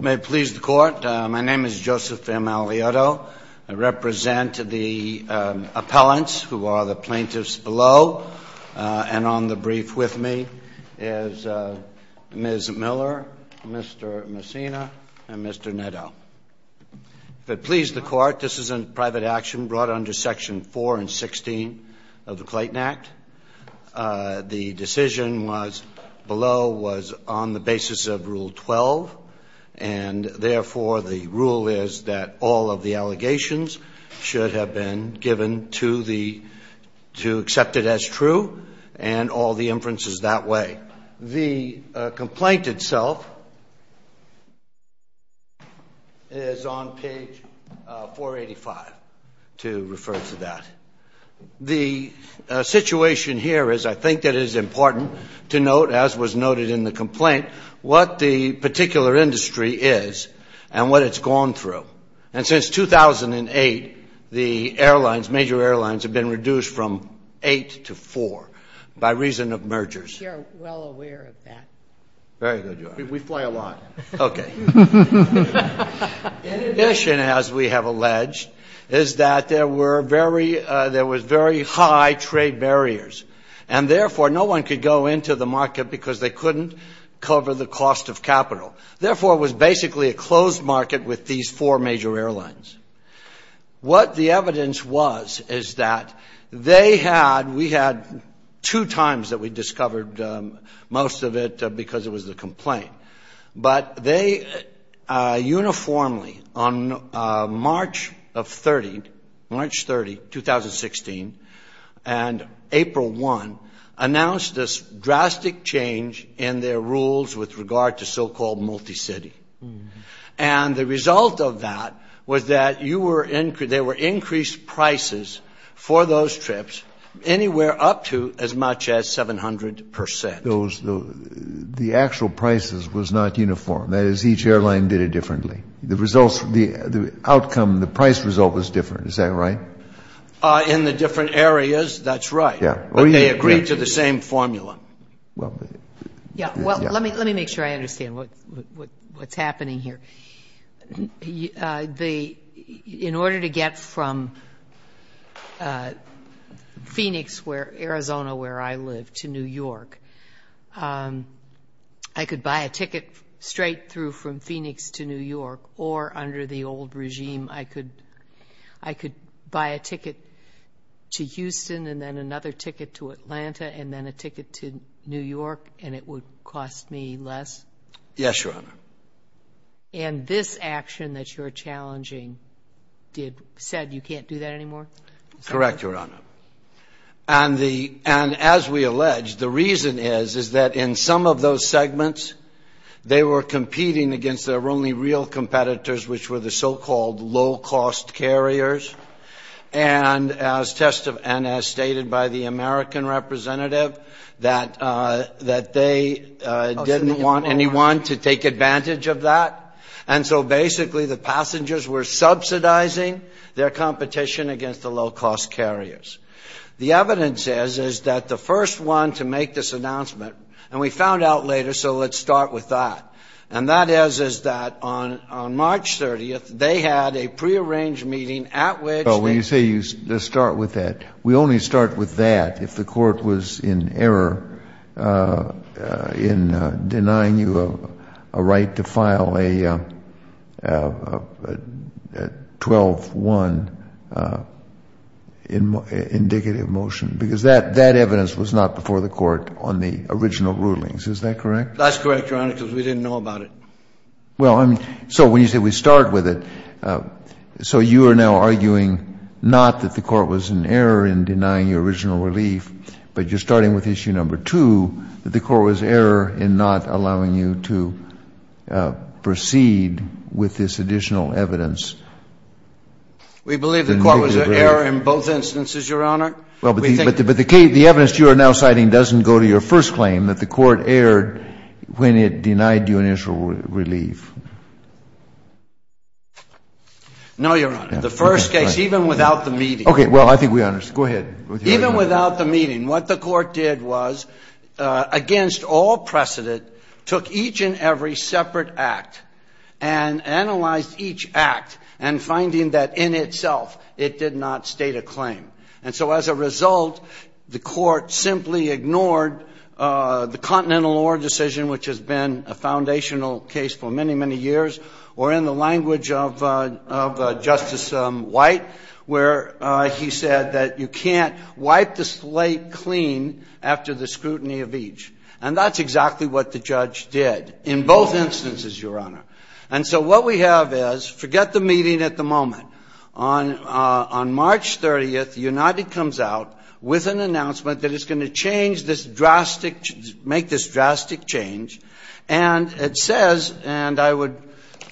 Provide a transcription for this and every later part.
May it please the Court, my name is Joseph M. Aliotto. I represent the appellants who are the plaintiffs below. And on the brief with me is Ms. Miller, Mr. Messina, and Mr. Netto. If it please the Court, this is a private action brought under Section 4 and 16 of the Clayton Act. The decision below was on the basis of Rule 12. And therefore, the rule is that all of the allegations should have been given to accept it as true and all the inferences that way. The complaint itself is on page 485 to refer to that. The situation here is I think that it is important to note, as was noted in the complaint, what the particular industry is and what it's gone through. And since 2008, the airlines, major airlines, have been reduced from eight to four by reason of mergers. We are well aware of that. Okay. In addition, as we have alleged, is that there were very high trade barriers. And therefore, no one could go into the market because they couldn't cover the cost of capital. Therefore, it was basically a closed market with these four major airlines. What the evidence was is that they had, we had two times that we discovered most of it because it was the complaint. But they uniformly, on March of 30, March 30, 2016, and April 1, announced this drastic change in their rules with regard to so-called multi-city. And the result of that was that you were, there were increased prices for those trips anywhere up to as much as 700%. The actual prices was not uniform. That is, each airline did it differently. The results, the outcome, the price result was different. Is that right? In the different areas, that's right. Yeah. But they agreed to the same formula. Yeah. Well, let me make sure I understand what's happening here. In order to get from Phoenix, Arizona, where I live, to New York, I could buy a ticket straight through from Phoenix to New York, or under the old regime, I could buy a ticket to Houston and then another ticket to Atlanta and then a ticket to New York and it would cost me less? Yes, Your Honor. And this action that you're challenging said you can't do that anymore? Correct, Your Honor. And as we alleged, the reason is that in some of those segments, they were competing against their only real competitors, which were the so-called low-cost carriers, and as stated by the American representative, that they didn't want anyone to take advantage of that. And so, basically, the passengers were subsidizing their competition against the low-cost carriers. The evidence is that the first one to make this announcement, and we found out later, so let's start with that, and that is that on March 30th, they had a prearranged meeting at which they… Let's start with that. We only start with that if the court was in error in denying you a right to file a 12-1 indicative motion, because that evidence was not before the court on the original rulings. Is that correct? That's correct, Your Honor, because we didn't know about it. Well, so when you say we start with it, so you are now arguing not that the court was in error in denying your original relief, but you're starting with issue number two, that the court was in error in not allowing you to proceed with this additional evidence. We believe the court was in error in both instances, Your Honor. Well, but the evidence you are now citing doesn't go to your first claim, that the court was in error in denying your original relief. No, Your Honor. The first case, even without the meeting. Okay. Well, I think we understood. Go ahead. Even without the meeting, what the court did was, against all precedent, took each and every separate act and analyzed each act, and finding that in itself it did not state a claim. And so as a result, the court simply ignored the Continental Law decision, which has been a foundational case for many, many years, or in the language of Justice White, where he said that you can't wipe the slate clean after the scrutiny of each. And that's exactly what the judge did in both instances, Your Honor. And so what we have is, forget the meeting at the moment. On March 30th, United comes out with an announcement that it's going to change this drastic, make this drastic change. And it says, and I would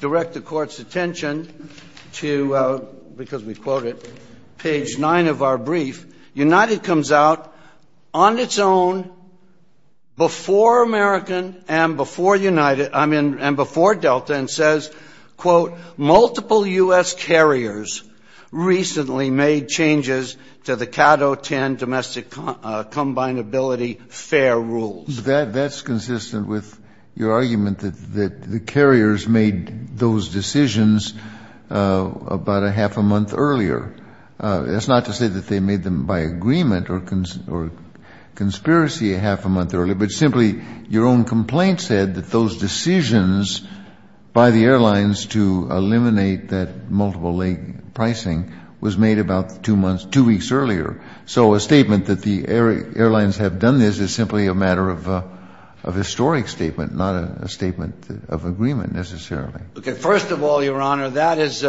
direct the Court's attention to, because we quote it, page 9 of our brief, United comes out on its own before American and before United, I mean, and before Delta, and says, quote, multiple U.S. carriers recently made changes to the Cato 10 domestic combinability fair rules. Kennedy. That's consistent with your argument that the carriers made those decisions about a half a month earlier. That's not to say that they made them by agreement or conspiracy a half a month earlier, but simply your own complaint said that those decisions by the airlines to eliminate that multiple-leg pricing was made about two months, two weeks earlier. So a statement that the airlines have done this is simply a matter of historic statement, not a statement of agreement, necessarily. Okay. First of all, Your Honor, that is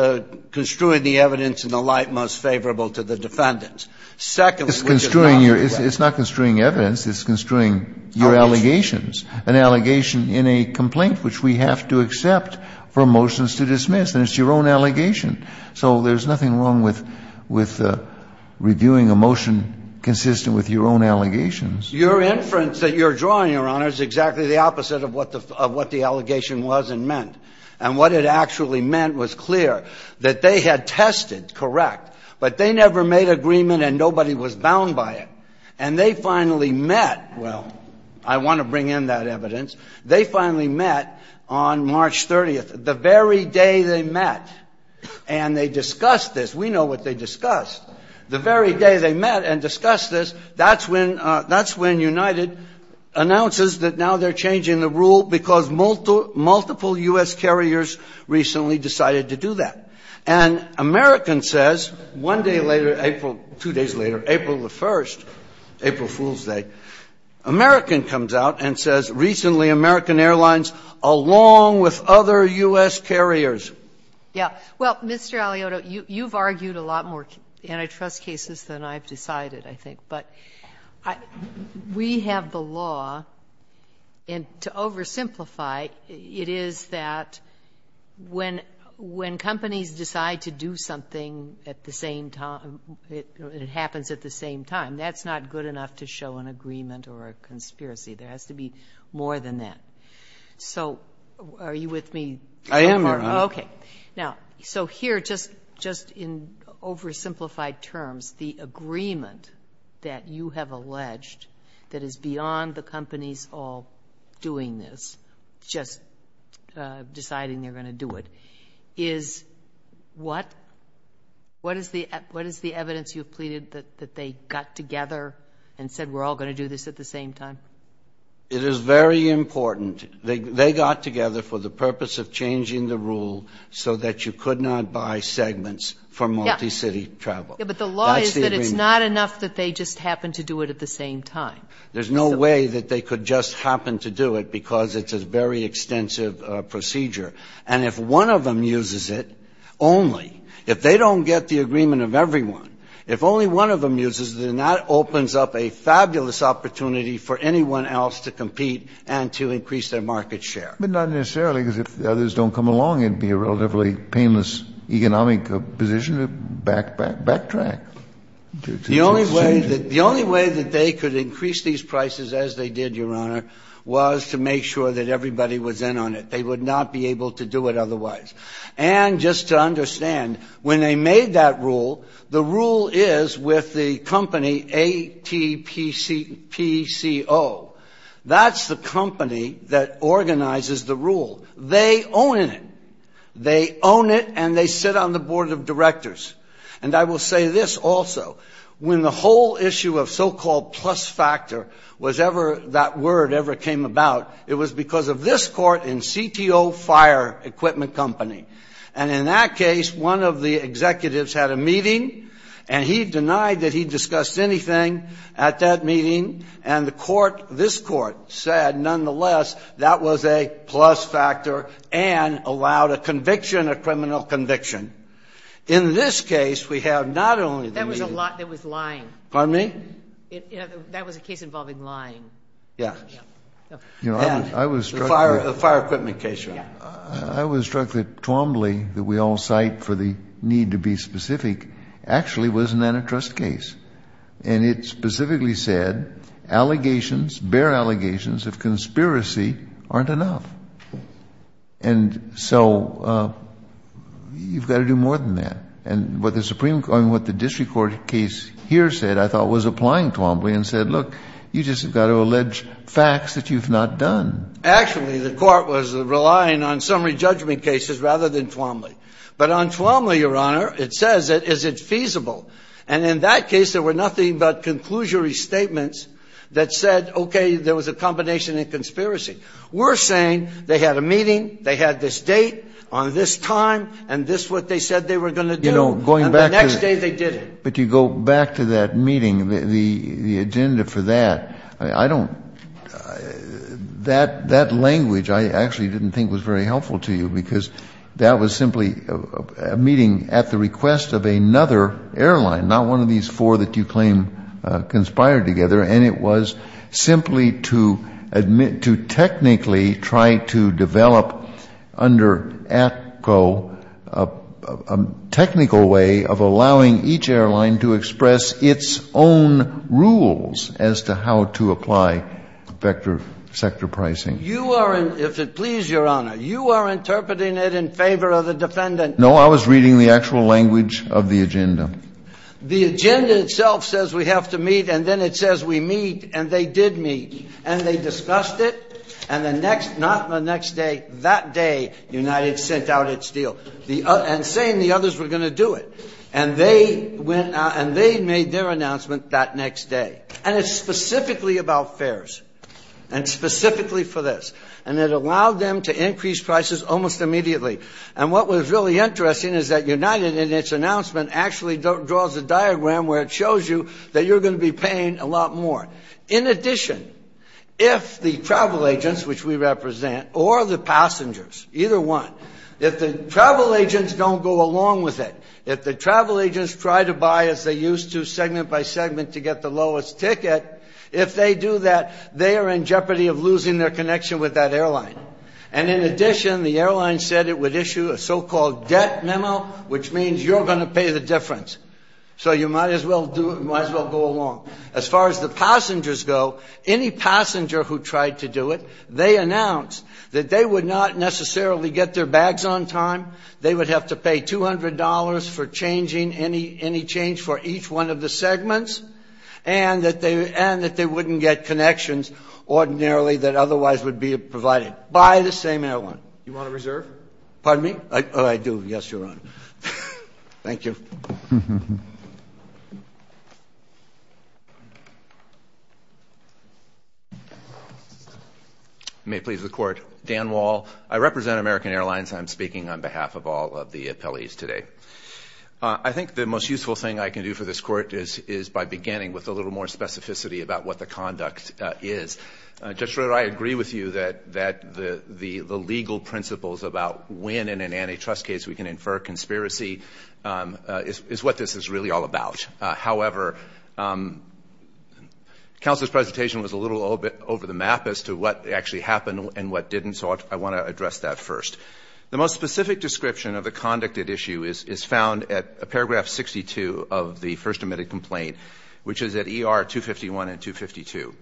construing the evidence in the light most favorable to the defendants. Secondly, which is not the case. It's not construing evidence. It's construing your allegations, an allegation in a complaint which we have to accept for motions to dismiss. And it's your own allegation. So there's nothing wrong with reviewing a motion consistent with your own allegations. Your inference that you're drawing, Your Honor, is exactly the opposite of what the allegation was and meant. And what it actually meant was clear, that they had tested, correct, but they never made agreement and nobody was bound by it. And they finally met. Well, I want to bring in that evidence. They finally met on March 30th, the very day they met. And they discussed this. We know what they discussed. The very day they met and discussed this, that's when United announces that now they're changing the rule because multiple U.S. carriers recently decided to do that. And American says one day later, April, two days later, April the 1st, April Fool's Day, American comes out and says recently American Airlines, along with other U.S. carriers. Yeah. Well, Mr. Alioto, you've argued a lot more antitrust cases than I've decided, I think. But we have the law, and to oversimplify, it is that when companies decide to do something and it happens at the same time, that's not good enough to show an agreement or a conspiracy. There has to be more than that. So are you with me? I am, Your Honor. Okay. Now, so here, just in oversimplified terms, the agreement that you have alleged that is beyond the companies all doing this, just deciding they're going to do it, is what? What is the evidence you've pleaded that they got together and said we're all going to do this at the same time? It is very important. They got together for the purpose of changing the rule so that you could not buy segments for multi-city travel. Yeah, but the law is that it's not enough that they just happen to do it at the same time. There's no way that they could just happen to do it because it's a very extensive procedure. And if one of them uses it only, if they don't get the agreement of everyone, if only one of them uses it, then that opens up a fabulous opportunity for anyone else to compete and to increase their market share. But not necessarily, because if the others don't come along, it would be a relatively painless economic position to backtrack. The only way that they could increase these prices as they did, Your Honor, was to make sure that everybody was in on it. They would not be able to do it otherwise. And just to understand, when they made that rule, the rule is with the company ATPCO. That's the company that organizes the rule. They own it. They own it and they sit on the board of directors. And I will say this also. When the whole issue of so-called plus factor was ever, that word ever came about, it was because of this court in CTO Fire Equipment Company. And in that case, one of the executives had a meeting and he denied that he discussed anything at that meeting. And the court, this court, said, nonetheless, that was a plus factor and allowed a conviction, a criminal conviction. In this case, we have not only the meeting. That was lying. Pardon me? That was a case involving lying. Yes. And the fire equipment case, Your Honor. I was struck that Twombly, that we all cite for the need to be specific, actually was an antitrust case. And it specifically said, allegations, bare allegations of conspiracy aren't enough. And so you've got to do more than that. And what the district court case here said, I thought, was applying Twombly and said, look, you've just got to allege facts that you've not done. Actually, the court was relying on summary judgment cases rather than Twombly. But on Twombly, Your Honor, it says, is it feasible? And in that case, there were nothing but conclusory statements that said, okay, there was a combination of conspiracy. We're saying they had a meeting, they had this date on this time, and this is what they said they were going to do. And the next day they did it. But you go back to that meeting, the agenda for that, I don't, that language I actually didn't think was very helpful to you, because that was simply a meeting at the request of another airline, not one of these four that you claim conspired together. And it was simply to admit, to technically try to develop under ATCO a technical way of allowing each airline to express its own rules as to how to apply sector pricing. You are, if it please Your Honor, you are interpreting it in favor of the defendant. No, I was reading the actual language of the agenda. The agenda itself says we have to meet, and then it says we meet, and they did meet. And they discussed it, and the next, not the next day, that day United sent out its and saying the others were going to do it. And they went, and they made their announcement that next day. And it's specifically about fares, and specifically for this. And it allowed them to increase prices almost immediately. And what was really interesting is that United in its announcement actually draws a diagram where it shows you that you're going to be paying a lot more. In addition, if the travel agents, which we represent, or the passengers, either one, if the travel agents don't go along with it, if the travel agents try to buy, as they used to, segment by segment to get the lowest ticket, if they do that, they are in jeopardy of losing their connection with that airline. And in addition, the airline said it would issue a so-called debt memo, which means you're going to pay the difference. So you might as well go along. As far as the passengers go, any passenger who tried to do it, they announced that they would not necessarily get their bags on time, they would have to pay $200 for changing any change for each one of the segments, and that they wouldn't get connections ordinarily that otherwise would be provided by the same airline. Do you want to reserve? Pardon me? Oh, I do. Yes, Your Honor. Thank you. You may please record. Dan Wall. I represent American Airlines, and I'm speaking on behalf of all of the appellees today. I think the most useful thing I can do for this Court is by beginning with a little more specificity about what the conduct is. Judge Schroeder, I agree with you that the legal principles about when in an antitrust case we can infer conspiracy is what this is really all about. However, counsel's presentation was a little over the map as to what actually happened and what didn't, so I want to address that first. The most specific description of the conduct at issue is found at paragraph 62 of the first admitted complaint, which is at ER 251 and 252.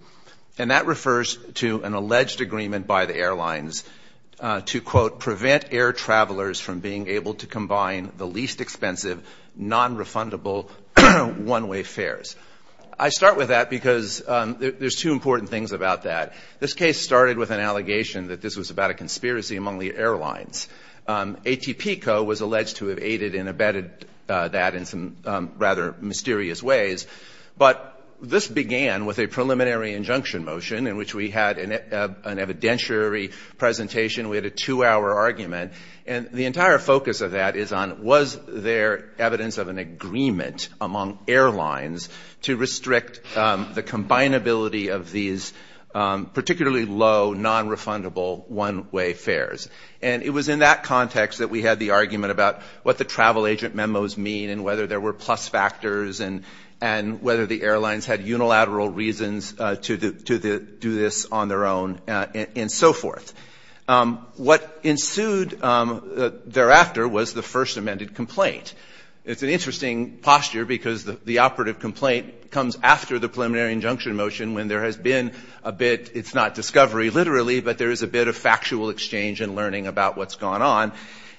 And that refers to an alleged agreement by the airlines to, quote, prevent air travelers from being able to combine the least expensive, nonrefundable one-way fares. I start with that because there's two important things about that. This case started with an allegation that this was about a conspiracy among the airlines. ATP Co. was alleged to have aided and abetted that in some rather mysterious ways, but this began with a preliminary injunction motion in which we had an evidentiary presentation. We had a two-hour argument. And the entire focus of that is on was there evidence of an agreement among airlines to restrict the combinability of these particularly low, nonrefundable one-way fares. And it was in that context that we had the argument about what the travel agent memos mean and whether there were plus factors and whether the airlines had unilateral reasons to do this on their own and so forth. What ensued thereafter was the first amended complaint. It's an interesting posture because the operative complaint comes after the preliminary injunction motion when there has been a bit, it's not discovery literally, but there is a bit of factual exchange and learning about what's gone on.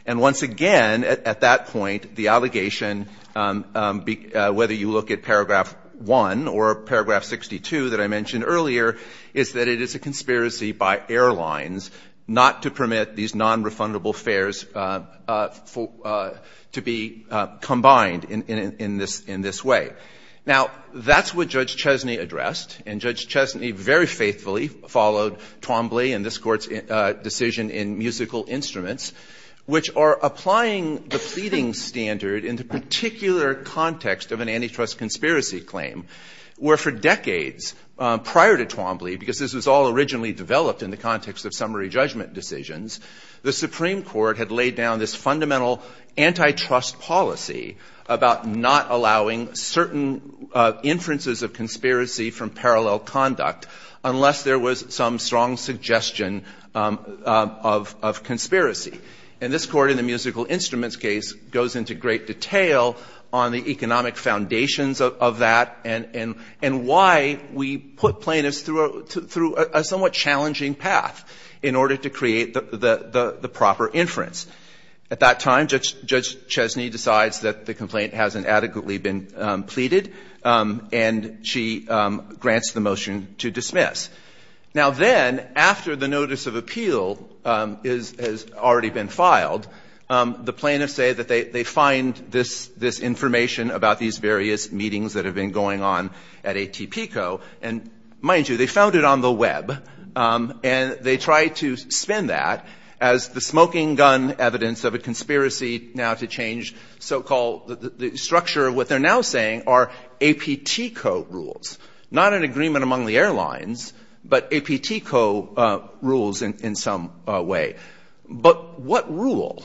And once again, at that point, the allegation, whether you look at Paragraph 1 or Paragraph 62 that I mentioned earlier, is that it is a conspiracy by airlines not to permit these nonrefundable fares to be combined in this way. Now, that's what Judge Chesney addressed, and Judge Chesney very faithfully followed Twombly and this Court's decision in musical instruments, which are applying the pleading standard in the particular context of an antitrust conspiracy claim, where for decades prior to Twombly, because this was all originally developed in the context of summary judgment decisions, the Supreme Court had laid down this fundamental antitrust policy about not allowing certain inferences of conspiracy from parallel conduct unless there was some strong suggestion of conspiracy. And this Court in the musical instruments case goes into great detail on the economic foundations of that and why we put plaintiffs through a somewhat challenging path in order to create the proper inference. At that time, Judge Chesney decides that the complaint hasn't adequately been pleaded, and she grants the motion to dismiss. Now then, after the notice of appeal has already been filed, the plaintiffs say that they find this information about these various meetings that have been going on at ATP Co., and mind you, they found it on the Web, and they try to spin that as the smoking gun evidence of a conspiracy now to change so-called structure. What they're now saying are APT Co. rules, not an agreement among the airlines, but APT Co. rules in some way. But what rule?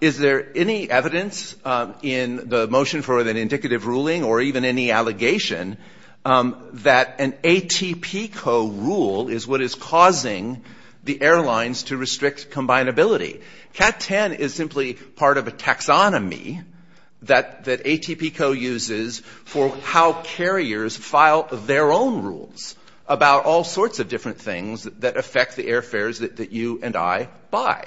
Is there any evidence in the motion for an indicative ruling or even any allegation that an ATP Co. rule is what is causing the airlines to restrict combinability? CAT-10 is simply part of a taxonomy that ATP Co. uses for how carriers file their own rules about all sorts of different things that affect the airfares that you and I buy.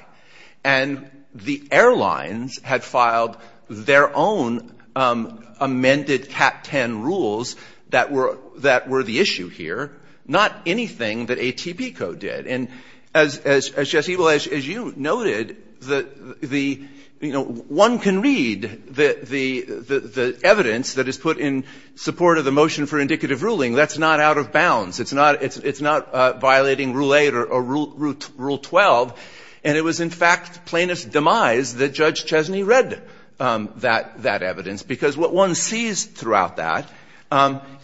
And the airlines had filed their own amended CAT-10 rules that were the issue here, not anything that ATP Co. did. And as Jesse, well, as you noted, the one can read the evidence that is put in support of the motion for indicative ruling. That's not out of bounds. It's not violating Rule 8 or Rule 12. And it was, in fact, plaintiff's demise that Judge Chesney read that evidence, because what one sees throughout that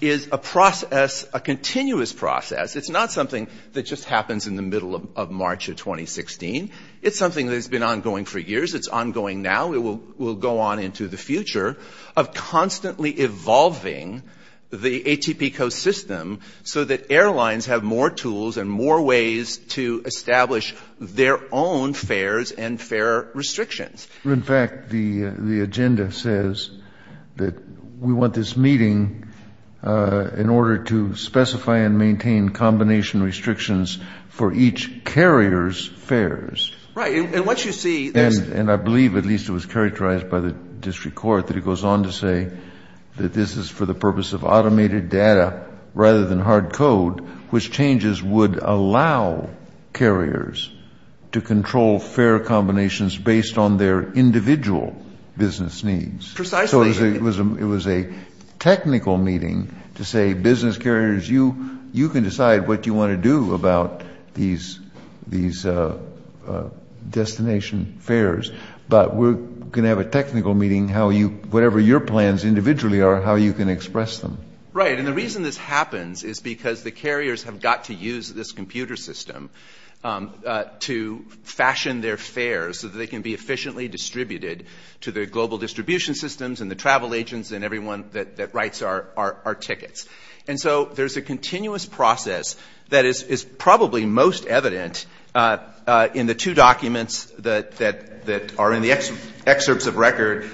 is a process, a continuous process. It's not something that just happens in the middle of March of 2016. It's something that has been ongoing for years. It's ongoing now. It will go on into the future of constantly evolving the ATP Co. system so that airlines have more tools and more ways to establish their own fares and fare restrictions. In fact, the agenda says that we want this meeting in order to specify and maintain combination restrictions for each carrier's fares. Right. And once you see this. And I believe, at least it was characterized by the district court, that it goes on to say that this is for the purpose of automated data rather than hard code, which changes would allow carriers to control fare combinations based on their individual business needs. Precisely. So it was a technical meeting to say, business carriers, you can decide what you want to do about these destination fares, but we're going to have a technical meeting, whatever your plans individually are, how you can express them. Right. And the reason this happens is because the carriers have got to use this computer system to fashion their fares so that they can be efficiently distributed to the global distribution systems and the travel agents and everyone that writes our tickets. And so there's a continuous process that is probably most evident in the two documents that are in the excerpts of record,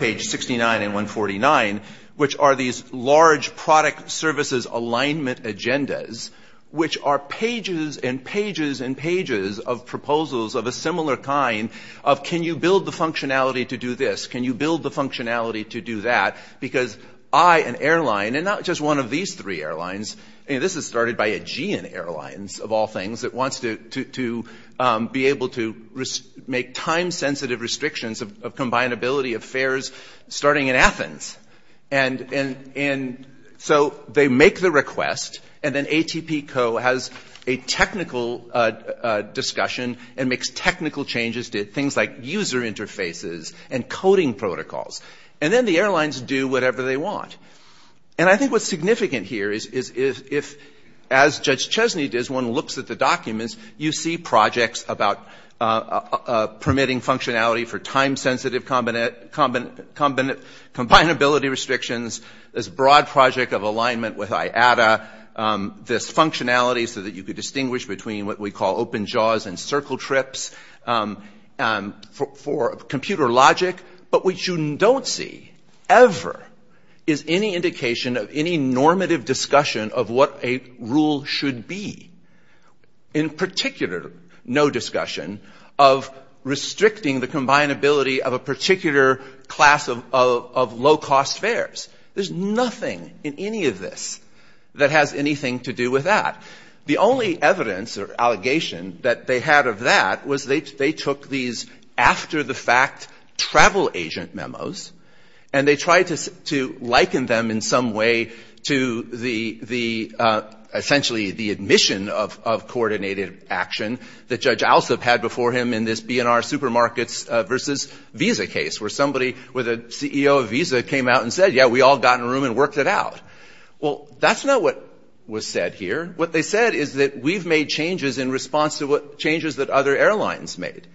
page 69 and 149, which are these large product services alignment agendas, which are pages and pages and pages of proposals of a similar kind of can you build the functionality to do this, can you build the functionality to do that, because I, an airline, and not just one of these three airlines, this is started by Aegean Airlines, of all things, that wants to be able to make time-sensitive restrictions of combinability of fares starting in Athens. And so they make the request, and then ATP Co. has a technical discussion and makes technical changes to things like user interfaces and coding protocols. And then the airlines do whatever they want. And I think what's significant here is if, as Judge Chesney does, one looks at the documents, you see projects about permitting functionality for time-sensitive combinability restrictions, this broad project of alignment with IATA, this functionality so that you could distinguish between what we call open jaws and circle trips for computer logic, but which you don't see ever is any indication of any normative discussion of what a rule should be. In particular, no discussion of restricting the combinability of a particular class of low-cost fares. There's nothing in any of this that has anything to do with that. The only evidence or allegation that they had of that was they took these after-the-fact travel agent memos, and they tried to liken them in some way to essentially the admission of coordinated action that Judge Alsup had before him in this B&R Supermarkets versus Visa case, where somebody with a CEO of Visa came out and said, yeah, we all got in a room and worked it out. Well, that's not what was said here. What they said is that we've made changes in response to changes that other airlines made,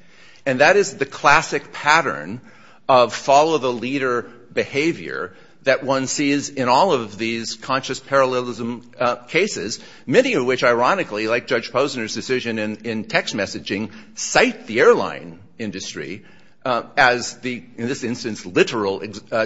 and that is the classic pattern of follow-the-leader behavior that one sees in all of these conscious parallelism cases, many of which, ironically, like Judge Posner's decision in text messaging, cite the airline industry as the, in this instance, literal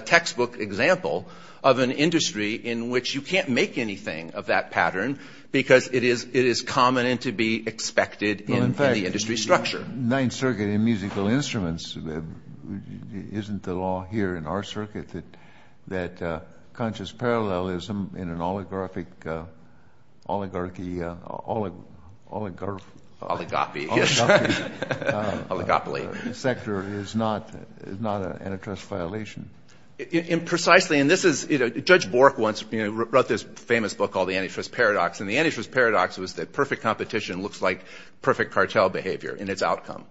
textbook example of an industry in which you can't make anything of that pattern because it is common and to be expected in the industry structure. Well, in fact, the Ninth Circuit in musical instruments isn't the law here in our circuit that conscious parallelism in an oligarchy sector is not an antitrust violation. Precisely, and this is, Judge Bork once wrote this famous book called The Antitrust Paradox, and the antitrust paradox was that perfect competition looks like perfect cartel behavior in its outcome.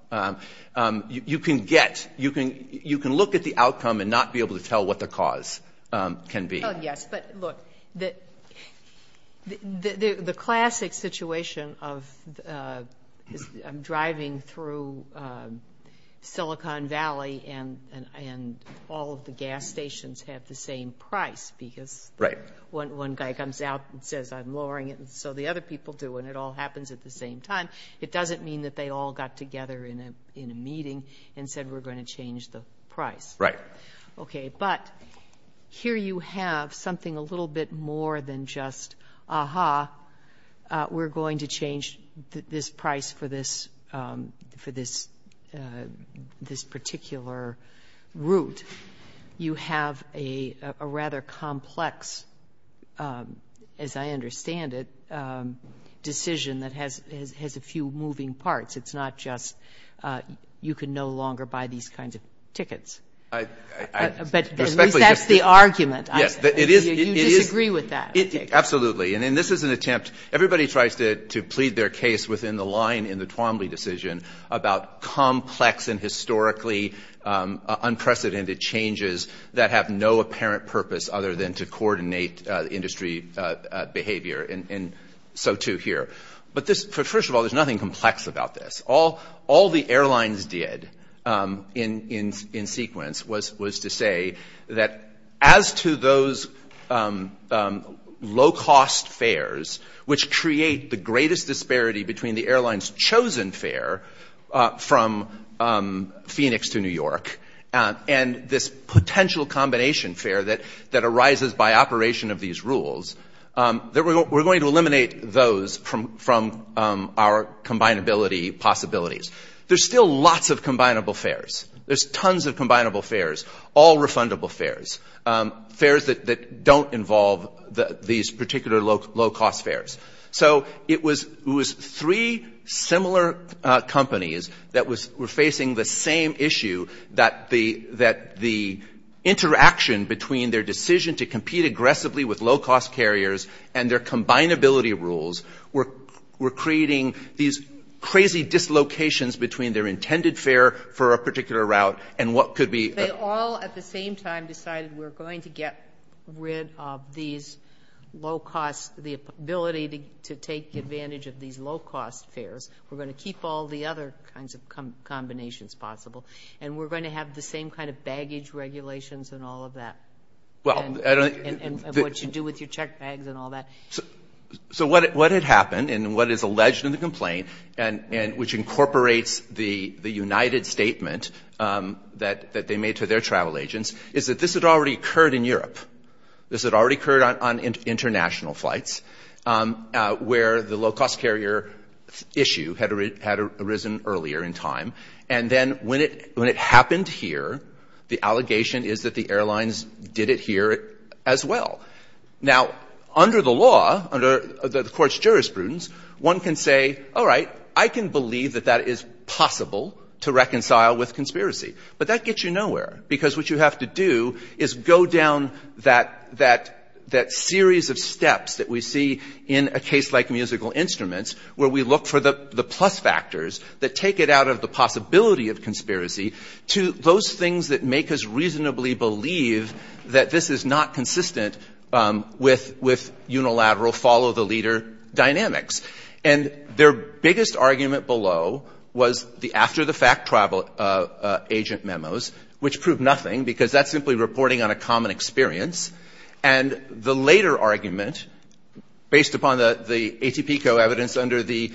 You can get, you can look at the outcome and not be able to tell what the cause can be. Oh, yes, but look, the classic situation of driving through Silicon Valley and all of the gas stations have the same price because one guy comes out and says, I'm lowering it, and so the other people do, and it all happens at the same time. It doesn't mean that they all got together in a meeting and said, we're going to change the price. Right. Okay, but here you have something a little bit more than just, aha, we're going to change this price for this particular route. You have a rather complex, as I understand it, decision that has a few moving parts. It's not just you can no longer buy these kinds of tickets. But at least that's the argument. Yes, it is. You disagree with that. Absolutely, and this is an attempt. Everybody tries to plead their case within the line in the Twombly decision about complex and historically unprecedented changes that have no apparent purpose other than to coordinate industry behavior, and so too here. But first of all, there's nothing complex about this. All the airlines did in sequence was to say that as to those low-cost fares, which create the greatest disparity between the airline's chosen fare from Phoenix to New York and this potential combination fare that arises by operation of these rules, that we're going to eliminate those from our combinability possibilities. There's still lots of combinable fares. There's tons of combinable fares, all refundable fares, fares that don't involve these particular low-cost fares. So it was three similar companies that were facing the same issue, that the interaction between their decision to compete aggressively with low-cost carriers and their combinability rules were creating these crazy dislocations between their intended fare for a particular route They all at the same time decided we're going to get rid of these low-cost, the ability to take advantage of these low-cost fares. We're going to keep all the other kinds of combinations possible, and we're going to have the same kind of baggage regulations and all of that, and what you do with your check bags and all that. So what had happened and what is alleged in the complaint, which incorporates the United statement that they made to their travel agents, is that this had already occurred in Europe. This had already occurred on international flights, where the low-cost carrier issue had arisen earlier in time, and then when it happened here, the allegation is that the airlines did it here as well. Now, under the law, under the court's jurisprudence, one can say, all right, I can believe that that is possible to reconcile with conspiracy, but that gets you nowhere because what you have to do is go down that series of steps that we see in a case like musical instruments, where we look for the plus factors that take it out of the possibility of conspiracy to those things that make us reasonably believe that this is not consistent with unilateral follow-the-leader dynamics. And their biggest argument below was the after-the-fact travel agent memos, which proved nothing because that's simply reporting on a common experience, and the later argument, based upon the ATP co-evidence under the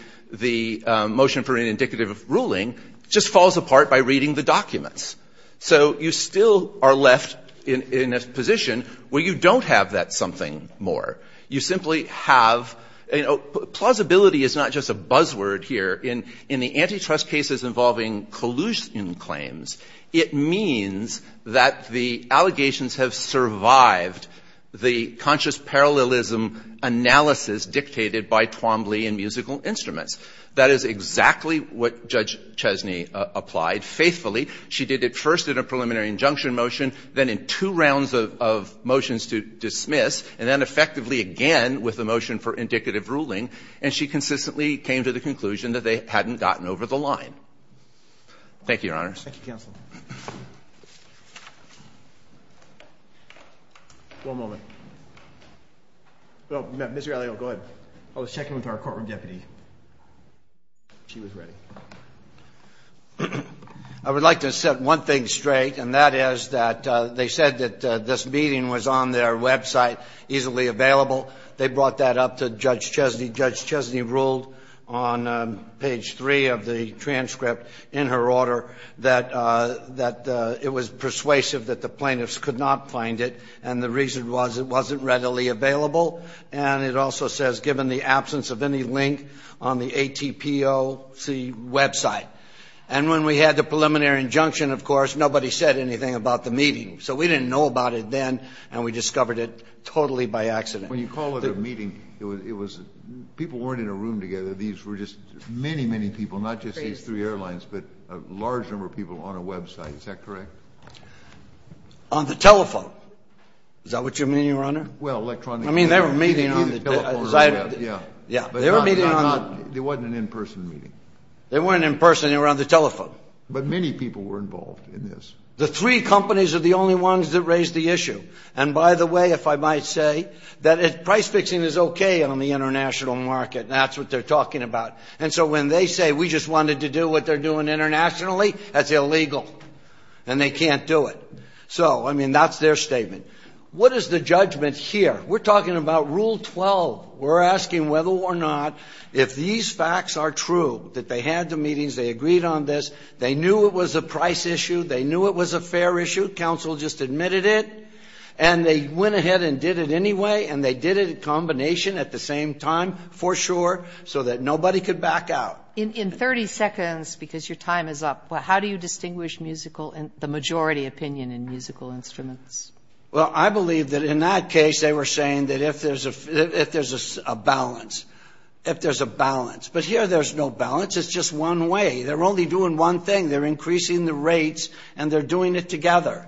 motion for an indicative of ruling, just falls apart by reading the documents. So you still are left in a position where you don't have that something more. You simply have, you know, plausibility is not just a buzzword here. In the antitrust cases involving collusion claims, it means that the allegations have survived the conscious parallelism analysis dictated by Twombly and musical instruments. That is exactly what Judge Chesney applied faithfully. She did it first in a preliminary injunction motion, then in two rounds of motions to dismiss, and then effectively again with the motion for indicative ruling, and she consistently came to the conclusion that they hadn't gotten over the line. Thank you, Your Honor. Roberts. Thank you, counsel. One moment. Mr. Allio, go ahead. I was checking with our courtroom deputy. She was ready. I would like to set one thing straight, and that is that they said that this meeting was on their website, easily available. They brought that up to Judge Chesney. Judge Chesney ruled on page 3 of the transcript in her order that it was persuasive that the plaintiffs could not find it, and the reason was it wasn't readily available. And it also says, given the absence of any link on the ATPOC website. And when we had the preliminary injunction, of course, nobody said anything about the meeting. So we didn't know about it then, and we discovered it totally by accident. When you call it a meeting, it was people weren't in a room together. These were just many, many people, not just these three airlines, but a large number of people on a website. Is that correct? On the telephone. Is that what you mean, Your Honor? Well, electronically. I mean, they were meeting on the telephone. Yeah. They were meeting on the – It wasn't an in-person meeting. They weren't in person. They were on the telephone. But many people were involved in this. The three companies are the only ones that raised the issue. And by the way, if I might say, that price-fixing is okay on the international market. That's what they're talking about. And so when they say we just wanted to do what they're doing internationally, that's illegal, and they can't do it. So, I mean, that's their statement. What is the judgment here? We're talking about Rule 12. We're asking whether or not, if these facts are true, that they had the meetings, they agreed on this, they knew it was a price issue, they knew it was a fair issue, council just admitted it, and they went ahead and did it anyway, and they did it in combination at the same time, for sure, so that nobody could back out. In 30 seconds, because your time is up, how do you distinguish musical – the majority opinion in musical instruments? Well, I believe that in that case they were saying that if there's a balance, if there's a balance. But here there's no balance. It's just one way. They're only doing one thing. They're increasing the rates, and they're doing it together.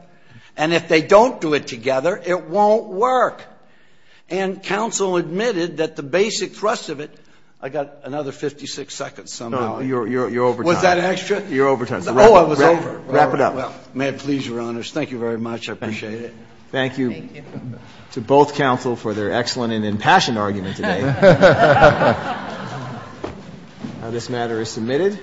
And if they don't do it together, it won't work. And council admitted that the basic thrust of it – I got another 56 seconds somehow. No, you're over time. Was that extra? You're over time. Oh, I was over. Wrap it up. May it please your honors. Thank you very much. I appreciate it. Thank you to both council for their excellent and impassioned argument today. This matter is submitted.